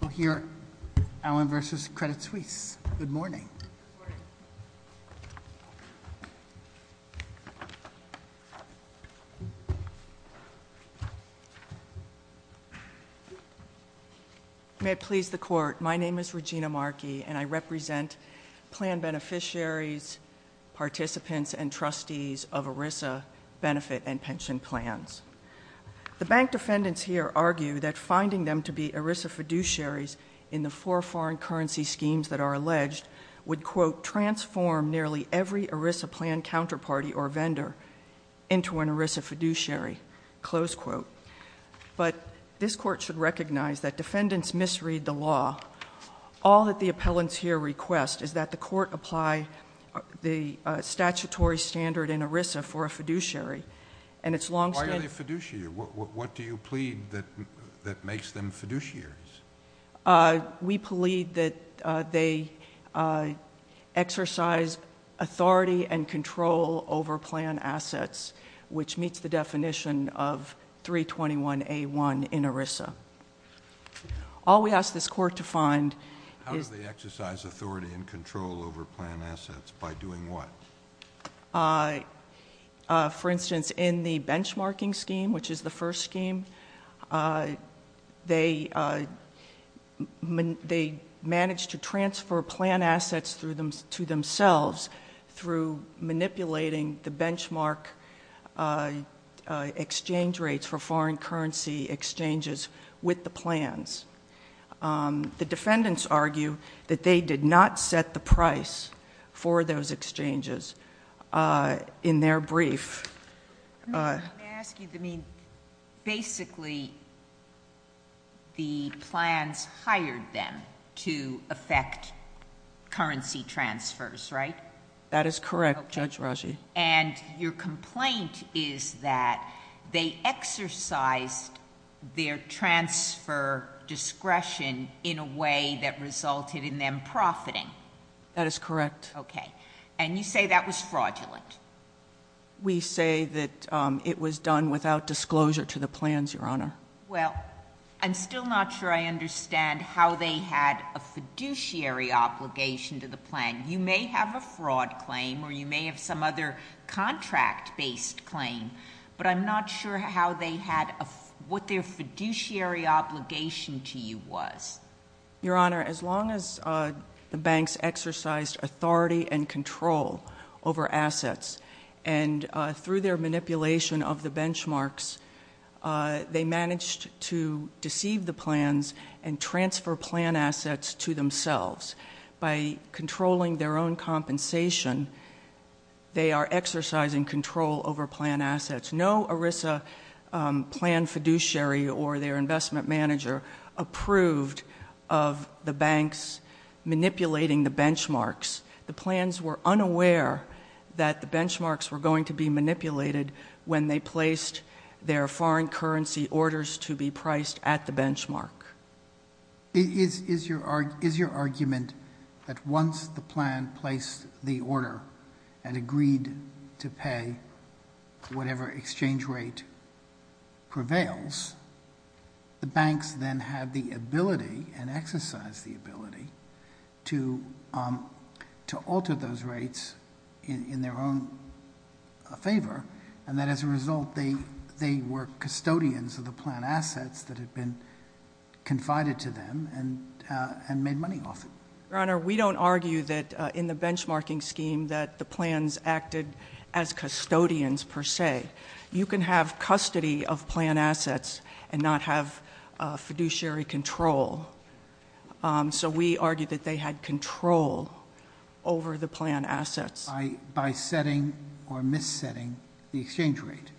We'll hear Allen v. Credit Suisse. Good morning. May it please the Court, my name is Regina Markey and I represent plan beneficiaries, participants, and trustees of ERISA benefit and pension plans. The bank defendants here argue that finding them to be ERISA fiduciaries in the four foreign currency schemes that are alleged would, quote, transform nearly every ERISA plan counterparty or vendor into an ERISA fiduciary, close quote. But this Court should recognize that defendants misread the law. All that the appellants here request is that the Court apply the statutory standard in ERISA for a fiduciary and it's long- Why are they a fiduciary? What do you plead that makes them fiduciaries? We plead that they exercise authority and control over plan assets, which meets the definition of 321A1 in ERISA. All we ask this Court to find is- How do they exercise authority and control over plan assets? By doing what? For instance, in the benchmarking scheme, which is the first scheme, they managed to transfer plan assets to themselves through manipulating the benchmark exchange rates for foreign currency exchanges with the plans. The defendants argue that they did not set the price for those exchanges in their brief. May I ask you, basically, the plans hired them to affect currency transfers, right? That is correct, Judge Raji. And your complaint is that they exercised their transfer discretion in a way that resulted in them profiting? That is correct. Okay. And you say that was fraudulent? We say that it was done without disclosure to the plans, Your Honor. Well, I'm still not sure I understand how they had a fiduciary obligation to the plan. You may have a fraud claim or you may have some other contract-based claim, but I'm not sure how they had- what their fiduciary obligation to you was. Your Honor, as long as the banks exercised authority and control over assets and through their manipulation of the benchmarks, they managed to deceive the plans and transfer plan assets to themselves by controlling their own compensation, they are exercising control over plan assets. No ERISA plan fiduciary or their investment manager approved of the banks manipulating the benchmarks. The plans were unaware that the benchmarks were going to be manipulated when they placed their foreign the order and agreed to pay whatever exchange rate prevails. The banks then had the ability and exercised the ability to alter those rates in their own favor, and that as a result, they were custodians of the plan assets that had been confided to them and made money off it. Your Honor, we don't argue that in the benchmarking scheme that the plans acted as custodians per se. You can have custody of plan assets and not have fiduciary control. So we argue that they had control over the plan assets. By setting or missetting the exchange rate.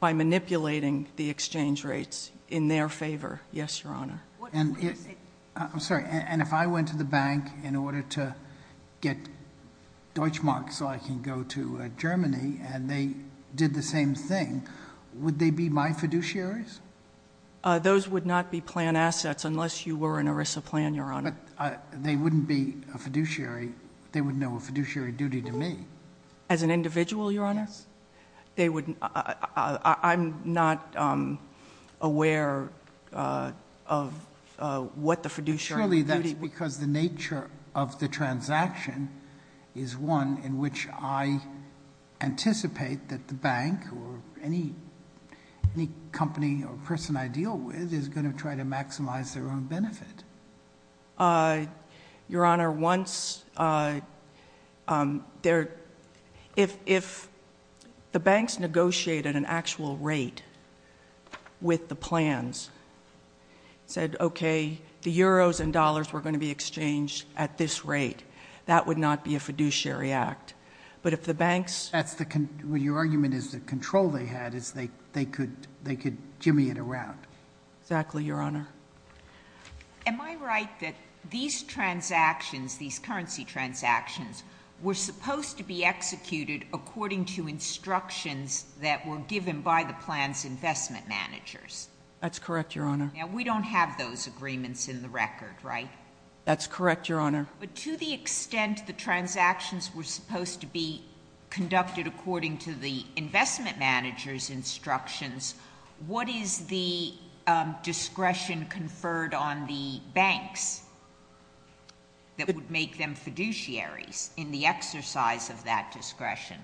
By manipulating the exchange rates in their favor. Yes, Your Honor. I'm sorry. And if I went to the bank in order to get Deutschmark so I can go to Germany and they did the same thing, would they be my fiduciaries? Those would not be plan assets unless you were an ERISA plan, Your Honor. They wouldn't be a fiduciary. They would know a fiduciary duty to me. As an individual, Your Honor? Yes. I'm not aware of what the fiduciary duty— Surely that's because the nature of the transaction is one in which I anticipate that the bank or any company or person I deal with is going to maximize their own benefit. Your Honor, if the banks negotiated an actual rate with the plans, said, okay, the euros and dollars were going to be exchanged at this rate, that would not be a fiduciary act. But if the banks— That's the—your argument is the control they had is they could jimmy it around. Exactly, Your Honor. Am I right that these transactions, these currency transactions, were supposed to be executed according to instructions that were given by the plan's investment managers? That's correct, Your Honor. Now, we don't have those agreements in the record, right? That's correct, Your Honor. But to the extent the transactions were supposed to be conducted according to the discretion conferred on the banks that would make them fiduciaries in the exercise of that discretion—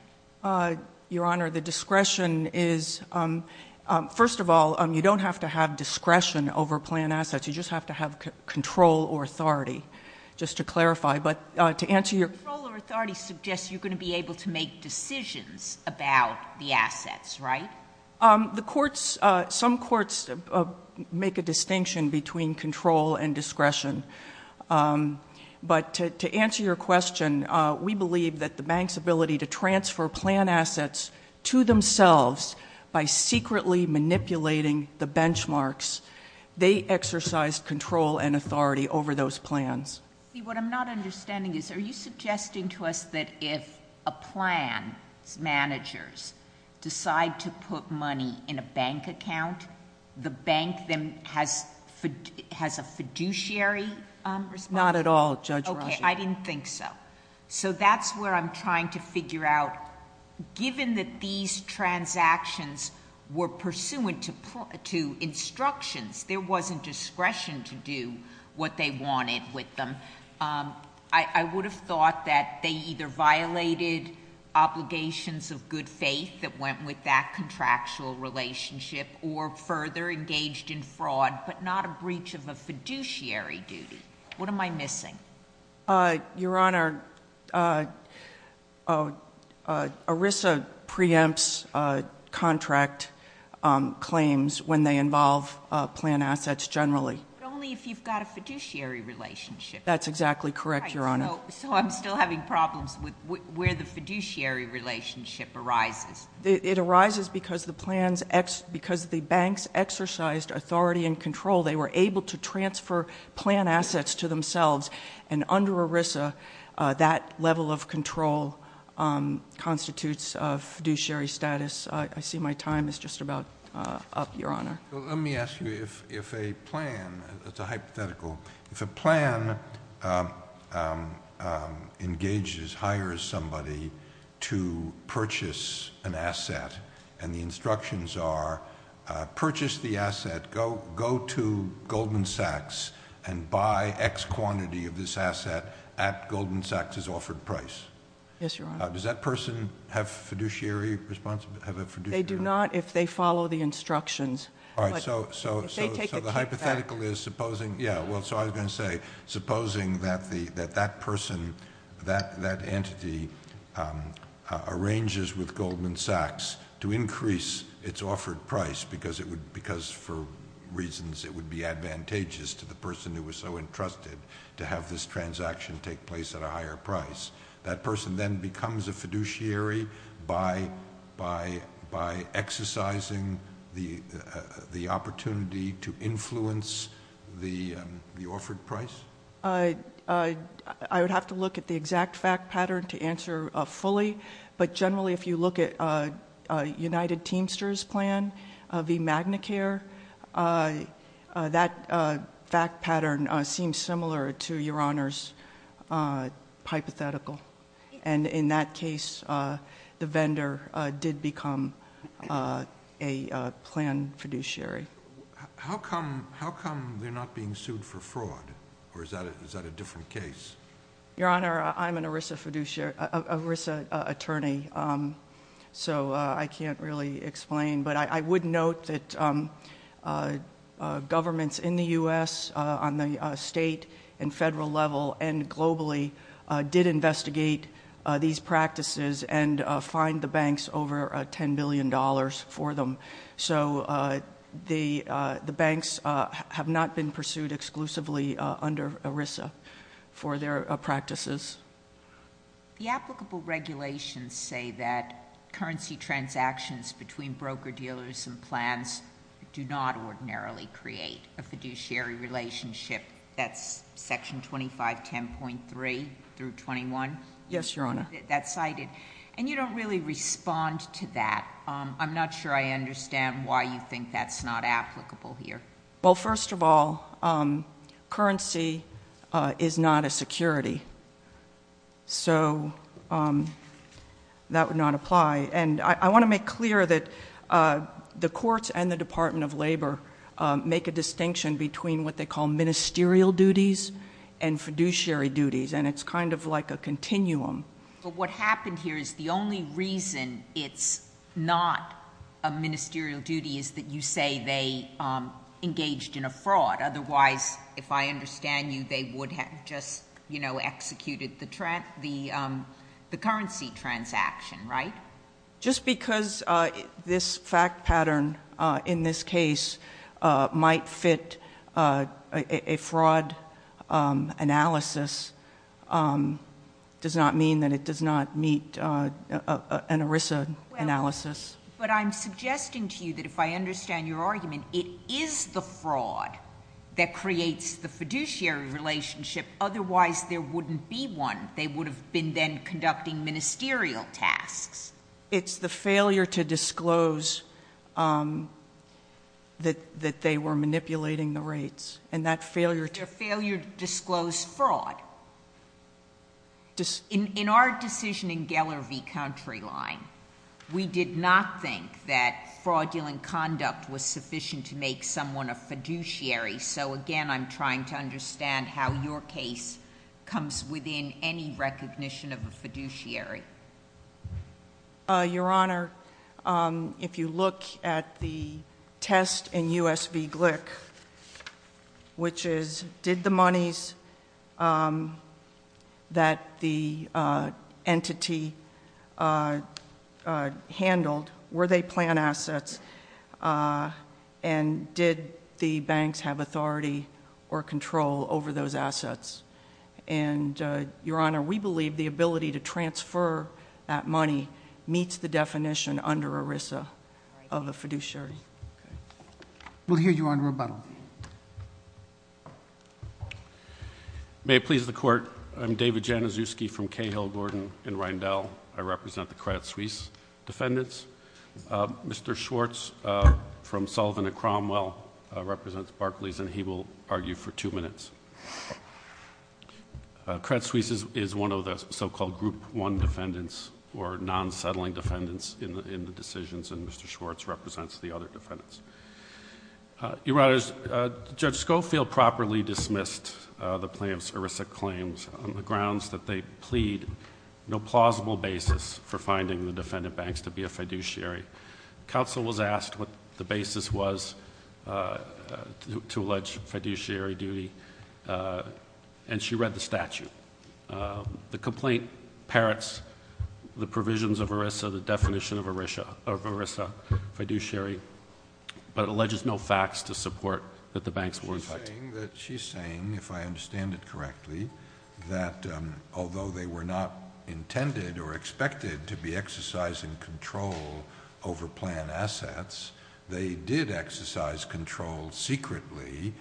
Your Honor, the discretion is—first of all, you don't have to have discretion over plan assets. You just have to have control or authority, just to clarify. But to answer your— Control or authority suggests you're going to be able to make decisions about the assets, right? The courts—some courts make a distinction between control and discretion. But to answer your question, we believe that the bank's ability to transfer plan assets to themselves by secretly manipulating the benchmarks, they exercised control and authority over those plans. What I'm not understanding is, are you suggesting to us that if a plan's managers decide to put money in a bank account, the bank then has a fiduciary responsibility? Not at all, Judge Rosha. Okay. I didn't think so. So that's where I'm trying to figure out, given that these transactions were pursuant to instructions, there wasn't discretion to do what they wanted with them, I would have thought that they either violated obligations of good faith that went with that contractual relationship or further engaged in fraud, but not a breach of a fiduciary duty. What am I missing? Your Honor, ERISA preempts contract claims when they involve plan assets generally. But only if you've got a fiduciary relationship. That's exactly correct, Your Honor. So I'm still having problems with where the fiduciary relationship arises. It arises because the banks exercised authority and control. They were able to transfer plan assets to themselves. And under ERISA, that level of control constitutes fiduciary status. I see my time is just about up, Your Honor. Let me ask you, if a plan, it's a hypothetical, if a plan engages, hires somebody to purchase an asset and the instructions are, purchase the asset, go to Goldman Sachs and buy X quantity of this asset at Goldman Sachs' offered price. Yes, Your Honor. Does that person have fiduciary responsibility? They do not if they follow the instructions. All right, so the hypothetical is supposing, yeah, well, so I was going to say, supposing that that person, that entity, arranges with Goldman Sachs to increase its offered price because for reasons it would be advantageous to the person who was so entrusted to have this transaction take place at a higher price. That person then becomes a fiduciary by exercising the opportunity to influence the offered price? I would have to look at the exact fact pattern to answer fully. But generally, if you look at United Teamsters' plan v. Magnicare, that fact pattern seems similar to Your Honor's hypothetical. And in that case, the vendor did become a planned fiduciary. How come they're not being sued for fraud? Or is that a different case? Your Honor, I'm an ERISA fiduciary, ERISA attorney, so I can't really explain. But I would note that governments in the U.S., on the state and federal level, and globally, did investigate these practices and fined the banks over $10 billion for them. So the banks have not been pursued exclusively under ERISA for their practices. The applicable regulations say that currency transactions between broker-dealers and plans do not ordinarily create a fiduciary relationship. That's Section 2510.3 through 21? Yes, Your Honor. That's cited. And you don't really respond to that. I'm not sure I understand why you think that's not applicable here. Well, first of all, currency is not a security. So that would not apply. And I want to make clear that the courts and the Department of Labor make a distinction between what they call ministerial duties and fiduciary duties. And it's kind of like a continuum. But what happened here is the only reason it's not a ministerial duty is that you say they engaged in a fraud. Otherwise, if I understand you, they would have just, you know, executed the currency transaction, right? Just because this fact pattern in this case might fit a fraud analysis does not mean that it does not meet an ERISA analysis. But I'm suggesting to you that if I understand your argument, it is the fraud that creates the fiduciary relationship. Otherwise, there wouldn't be one. They would have been then conducting ministerial tasks. It's the failure to disclose that they were manipulating the rates. And that failure to... Their failure to disclose fraud. In our decision in Geller v. Countryline, we did not think that fraudulent conduct was sufficient to make someone a fiduciary. So again, I'm trying to understand how your case comes within any recognition of a fiduciary. Your Honor, if you look at the test in U.S. v. Glick, which is, did the monies that the entity handled, were they plan assets? And did the banks have authority or control over those assets? And, Your Honor, we believe the ability to transfer that money meets the definition under ERISA of a fiduciary. Okay. We'll hear you on rebuttal. May it please the Court. I'm David Januszewski from Cahill, Gordon and Rindell. I represent the Credit Suisse defendants. Mr. Schwartz from Sullivan and Cromwell represents Barclays, and he will argue for two minutes. Credit Suisse is one of the so-called Group 1 defendants or non-settling defendants in the decisions, and Mr. Schwartz represents the other defendants. Your Honor, Judge Schofield properly dismissed the plaintiff's ERISA claims on the grounds that they plead no plausible basis for finding the defendant banks to be a fiduciary. Counsel was asked what the basis was to allege fiduciary duty, and she read the statute. The complaint parrots the provisions of ERISA, the definition of ERISA, fiduciary, but alleges no facts to support that the banks were in fact— She's saying, if I understand it correctly, that although they were not intended or expected to be exercising control over planned assets, they did exercise control secretly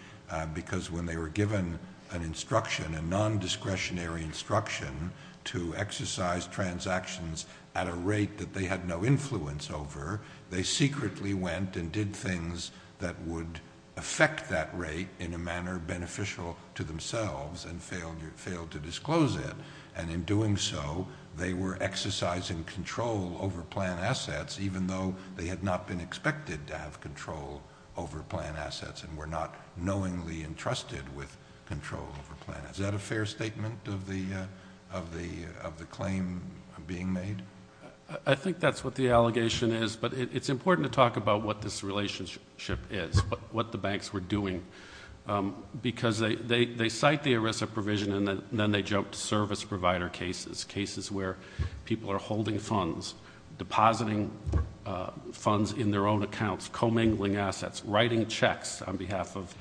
because when they were given an instruction, a non-discretionary instruction to exercise transactions at a rate that they had no influence over, they secretly went and did things that would affect that rate in a manner beneficial to themselves and failed to disclose it. And in doing so, they were exercising control over planned assets even though they had not been expected to have control over planned assets and were not knowingly entrusted with control over planned assets. Is that a fair statement of the claim being made? I think that's what the allegation is, but it's important to talk about what this relationship is, but what the banks were doing because they cite the ERISA provision and then they joked service provider cases, cases where people are holding funds, depositing funds in their own accounts, commingling assets, writing checks on behalf of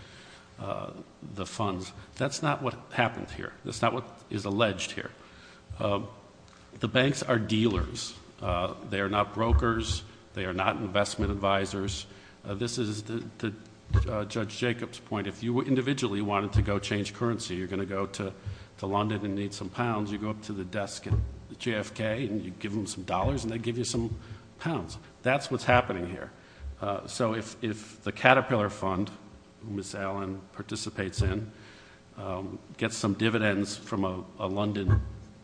the funds. That's not what happened here. That's not what is alleged here. The banks are dealers. They are not brokers. They are not investment advisors. This is Judge Jacob's point. If you individually wanted to go change currency, you're going to go to London and need some pounds, you go up to the desk at the JFK and you give them some dollars and they give you some pounds. That's what's happening here. So if the Caterpillar Fund, Miss Allen participates in, gets some dividends from a London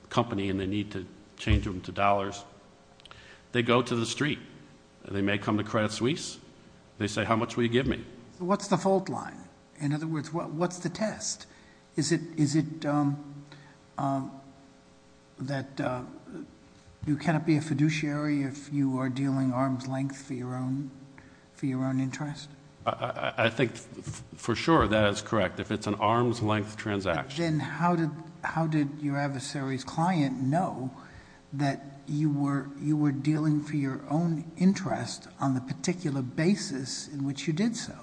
company and they need to change them to dollars, they go to the street. They may come to Credit Suisse. They say, how much will you give me? What's the fault line? In other words, what's the test? Is it that you cannot be a fiduciary if you are dealing arm's length for your own interest? I think for sure that is correct. If it's an arm's length transaction. Then how did your adversary's client know that you were dealing for your own interest on the particular basis in which you did so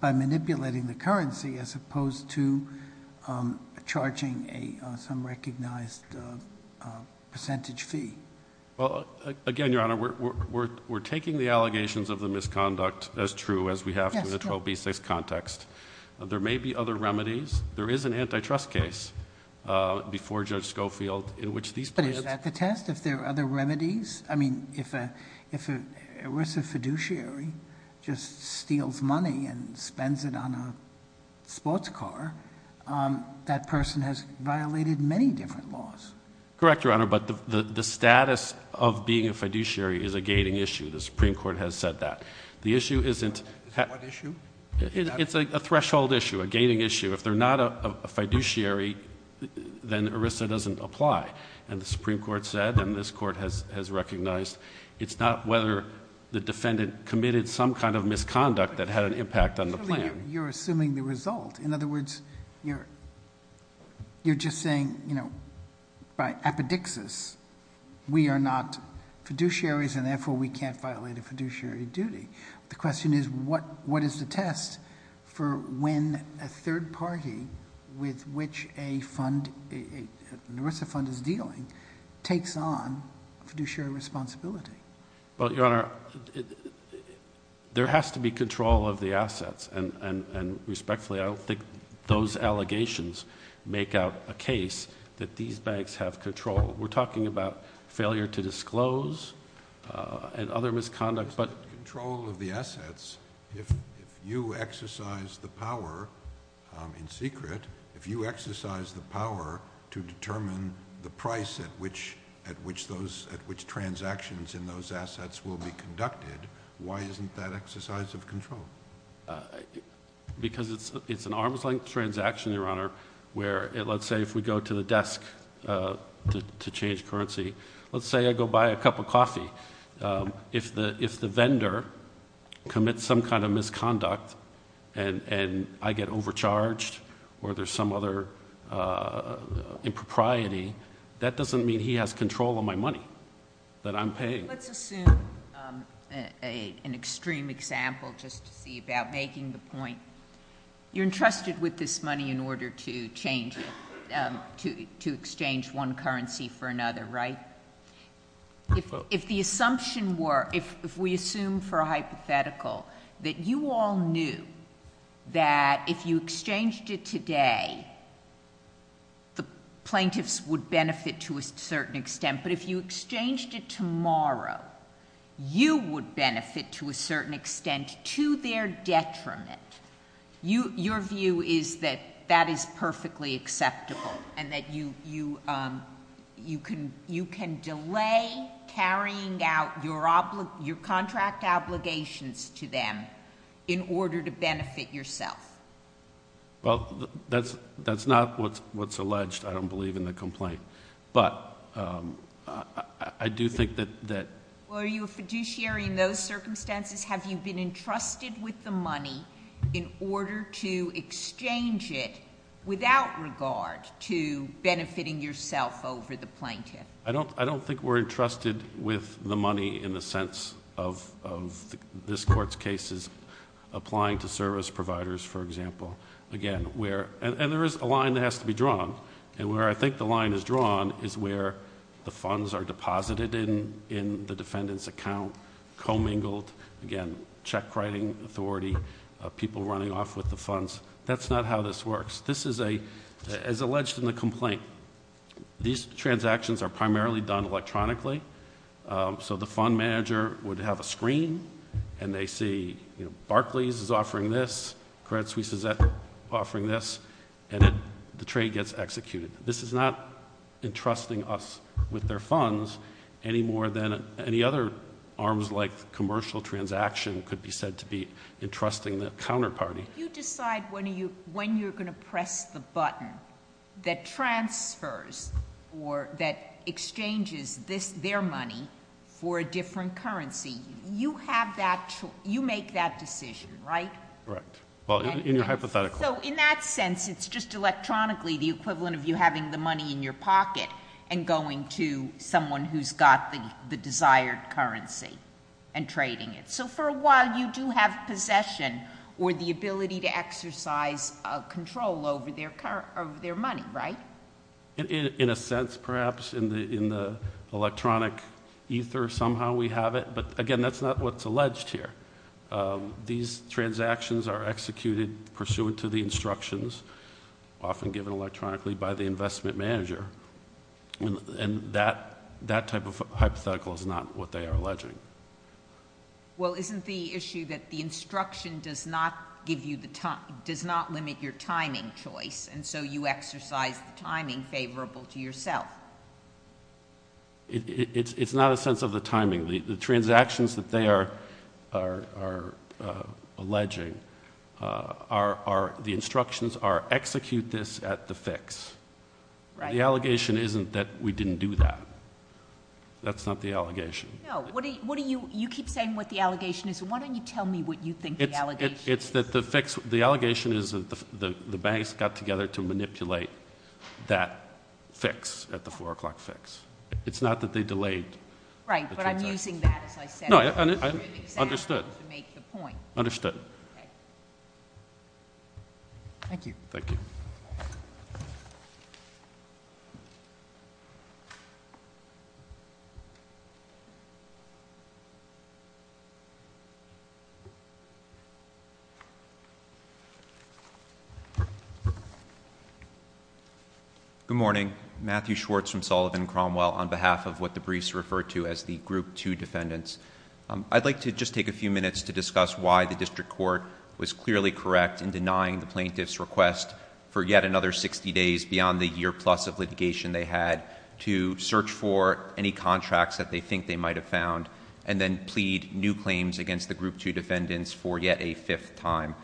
by manipulating the currency as opposed to charging some recognized percentage fee? Well, again, Your Honor, we're taking the allegations of the misconduct as true as we have through the 12b6 context. There may be other remedies. There is an antitrust case before Judge Schofield in which these plans- But is that the test? If there are other remedies? I mean, if a risk of fiduciary just steals money and spends it on a sports car, that person has violated many different laws. Correct, Your Honor. But the status of being a fiduciary is a gating issue. The Supreme Court has said that. The issue isn't- What issue? It's a threshold issue, a gating issue. If they're not a fiduciary, then ERISA doesn't apply. And the Supreme Court said, and this court has recognized, it's not whether the defendant committed some kind of misconduct that had an impact on the plan. You're assuming the result. In other words, you're just saying, by apodixis, we are not fiduciaries and therefore we can't violate a fiduciary duty. The question is, what is the test for when a third party with which a fund, an ERISA fund is dealing, takes on fiduciary responsibility? Well, Your Honor, there has to be control of the assets. And respectfully, I don't think those allegations make out a case that these banks have control. We're talking about failure to disclose and other misconduct, but- Control of the assets, if you exercise the power, in secret, if you exercise the power to determine the price at which transactions in those assets will be conducted, why isn't that exercise of control? Because it's an arm's length transaction, Your Honor, where, let's say, if we go to the desk to change currency, let's say I go buy a cup of coffee. If the vendor commits some kind of misconduct and I get overcharged or there's some other impropriety, that doesn't mean he has control of my money that I'm paying. Let's assume an extreme example, just to see about making the point. You're entrusted with this money in order to change it, to exchange one currency for another, right? If the assumption were, if we assume for a hypothetical, that you all knew that if you exchanged it today, the plaintiffs would benefit to a certain extent, but if you exchanged it tomorrow, you would benefit to a certain extent to their detriment, your view is that that is perfectly acceptable and that you can delay carrying out your contract obligations to them in order to benefit yourself. Well, that's not what's alleged. I don't believe in the complaint, but I do think that... Were you a fiduciary in those circumstances? Have you been entrusted with the money in order to exchange it without regard to benefiting yourself over the plaintiff? I don't think we're entrusted with the money in the sense of this court's cases applying to service providers, for example. Again, and there is a line that has to be drawn and where I think the line is drawn is where the funds are deposited in the defendant's account, commingled, again, check writing authority, people running off with the funds. That's not how this works. This is, as alleged in the complaint, these transactions are primarily done electronically. So the fund manager would have a screen and they see Barclays is offering this, Credit Suisse is offering this, and the trade gets executed. This is not entrusting us with their funds any more than any other arms like commercial transaction could be said to be entrusting the counterparty. You decide when you're going to press the button that transfers or that exchanges this, their money for a different currency. You have that, you make that decision, right? Correct. Well, in your hypothetical... So in that sense, it's just electronically the equivalent of you having the money in your pocket and going to someone who's got the desired currency and trading it. So for a while, you do have possession or the ability to exercise control over their money, right? In a sense, perhaps in the electronic ether, somehow we have it. But again, that's not what's alleged here. These transactions are executed pursuant to the instructions often given electronically by the investment manager. And that type of hypothetical is not what they are alleging. Well, isn't the issue that the instruction does not limit your timing choice and so you exercise the timing favorable to yourself? It's not a sense of the timing. The transactions that they are alleging are the instructions are execute this at the fix. The allegation isn't that we didn't do that. That's not the allegation. No, what do you... You keep saying what the allegation is. Why don't you tell me what you think the allegation is? It's that the fix... The allegation is that the banks got together to manipulate that fix at the four o'clock fix. It's not that they delayed the transactions. Right, but I'm using that as I said... No, understood. ...to make the point. Understood. Thank you. Thank you. Thank you. Good morning. Matthew Schwartz from Sullivan Cromwell on behalf of what the briefs refer to as the group two defendants. I'd like to just take a few minutes to discuss why the district court was clearly correct in denying the plaintiff's request for yet another 60 days beyond the year plus of litigation they had to search for any contracts that they think they might have found and then plead new claims against the group two defendants for yet a fifth time.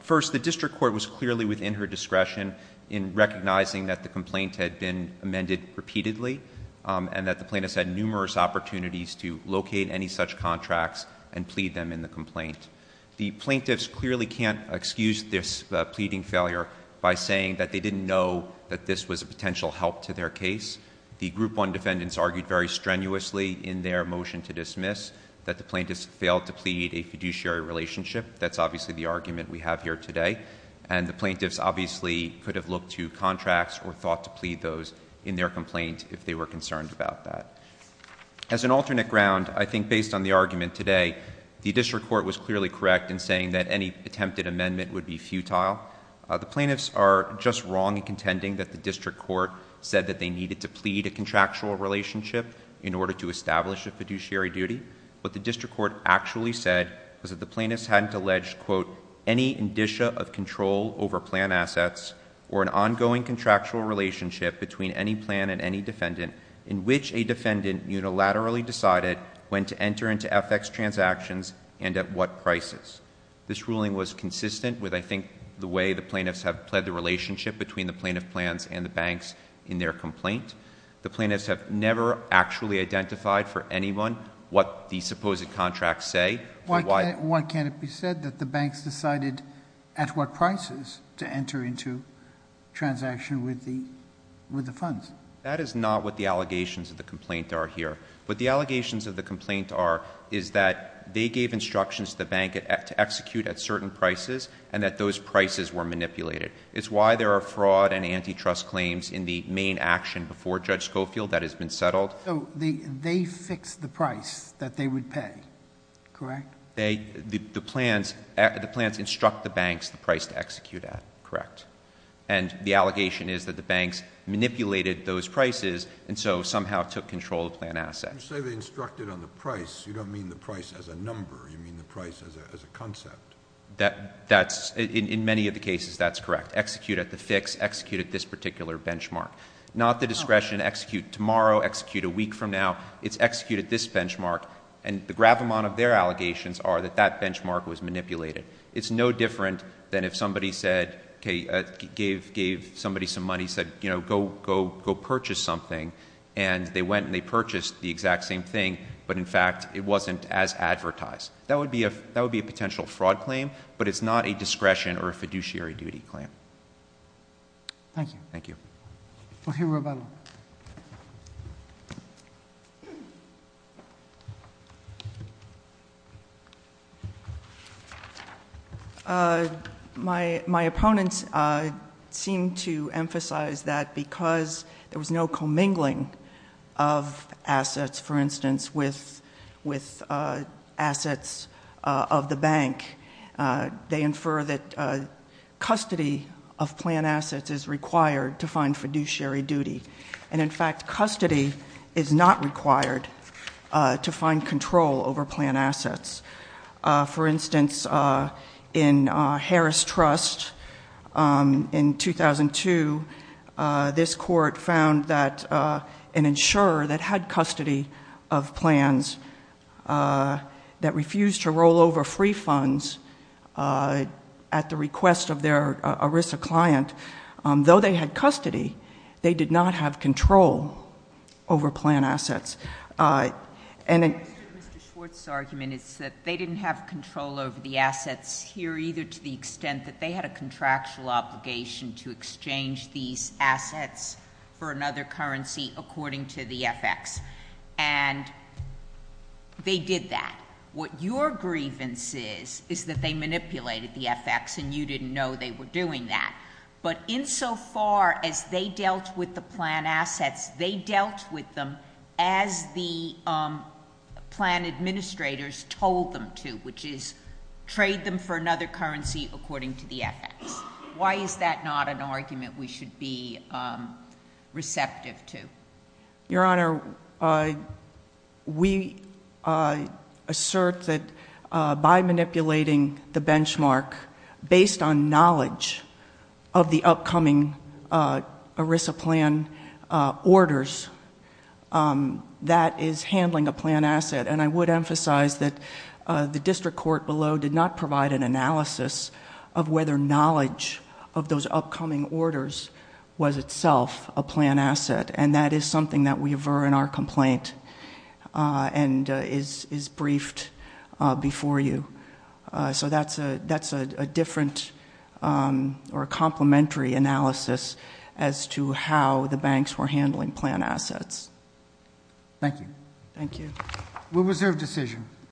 First, the district court was clearly within her discretion in recognizing that the complaint had been amended repeatedly and that the plaintiffs had numerous opportunities to locate any such contracts and plead them in the complaint. The plaintiffs clearly can't excuse this pleading failure by saying that they didn't know that this was a potential help to their case. The group one defendants argued very strenuously in their motion to dismiss that the plaintiffs failed to plead a fiduciary relationship. That's obviously the argument we have here today and the plaintiffs obviously could have looked to contracts or thought to plead those in their complaint if they were concerned about that. As an alternate ground, I think based on the argument today, the district court was clearly correct in saying that any attempted amendment would be futile. The plaintiffs are just wrong in contending that the district court said that they needed to plead a contractual relationship in order to establish a fiduciary duty. What the district court actually said was that the plaintiffs hadn't alleged quote, any indicia of control over plan assets or an ongoing contractual relationship between any plan and any defendant in which a defendant unilaterally decided when to enter into FX transactions and at what prices. This ruling was consistent with I think the way the plaintiffs have pled the relationship between the plaintiff plans and the banks in their complaint. The plaintiffs have never actually identified for anyone what the supposed contracts say. Why can't it be said that the banks decided at what prices to enter into transaction with the funds? That is not what the allegations of the complaint are here. What the allegations of the complaint are is that they gave instructions to the bank to execute at certain prices and that those prices were manipulated. It's why there are fraud and antitrust claims in the main action before Judge Schofield that has been settled. So they fixed the price that they would pay, correct? The plans instruct the banks the price to execute at, correct? And the allegation is that the banks manipulated those prices and so somehow took control of plan assets. You say they instructed on the price. You don't mean the price as a number. You mean the price as a concept. In many of the cases, that's correct. Execute at the fix, execute at this particular benchmark. Not the discretion to execute tomorrow, execute a week from now. It's execute at this benchmark. And the gravamont of their allegations are that that benchmark was manipulated. It's no different than if somebody said, okay, gave somebody some money, said, you know, go purchase something and they went and they purchased the exact same thing. But in fact, it wasn't as advertised. That would be a potential fraud claim, but it's not a discretion or a fiduciary duty claim. Thank you. Thank you. We'll hear Rebecca. My opponents seem to emphasize that because there was no commingling of assets, for instance, with assets of the bank, they infer that custody of plan assets is required to find fiduciary duty. And in fact, custody is not required to find control over plan assets. For instance, in Harris Trust in 2002, this court found that an insurer that had custody of plans that refused to roll over free funds at the request of their ERISA client, though they had custody, they did not have control over plan assets. And Mr. Schwartz's argument is that they didn't have control over the assets here either to the extent that they had a contractual obligation to exchange these assets for another currency according to the FX. And they did that. What your grievance is is that they manipulated the FX and you didn't know they were doing that. But insofar as they dealt with the plan assets, they dealt with them as the plan administrators told them to, which is trade them for another currency according to the FX. Why is that not an argument we should be receptive to? Your Honor, we assert that by manipulating the benchmark based on knowledge of the upcoming ERISA plan orders, that is handling a plan asset. And I would emphasize that the district court below did not provide an analysis of whether knowledge of those upcoming orders was itself a plan asset. And that is something that we aver in our complaint and is briefed before you. So that's a different or complementary analysis as to how the banks were handling plan assets. Thank you. Thank you. We reserve decision.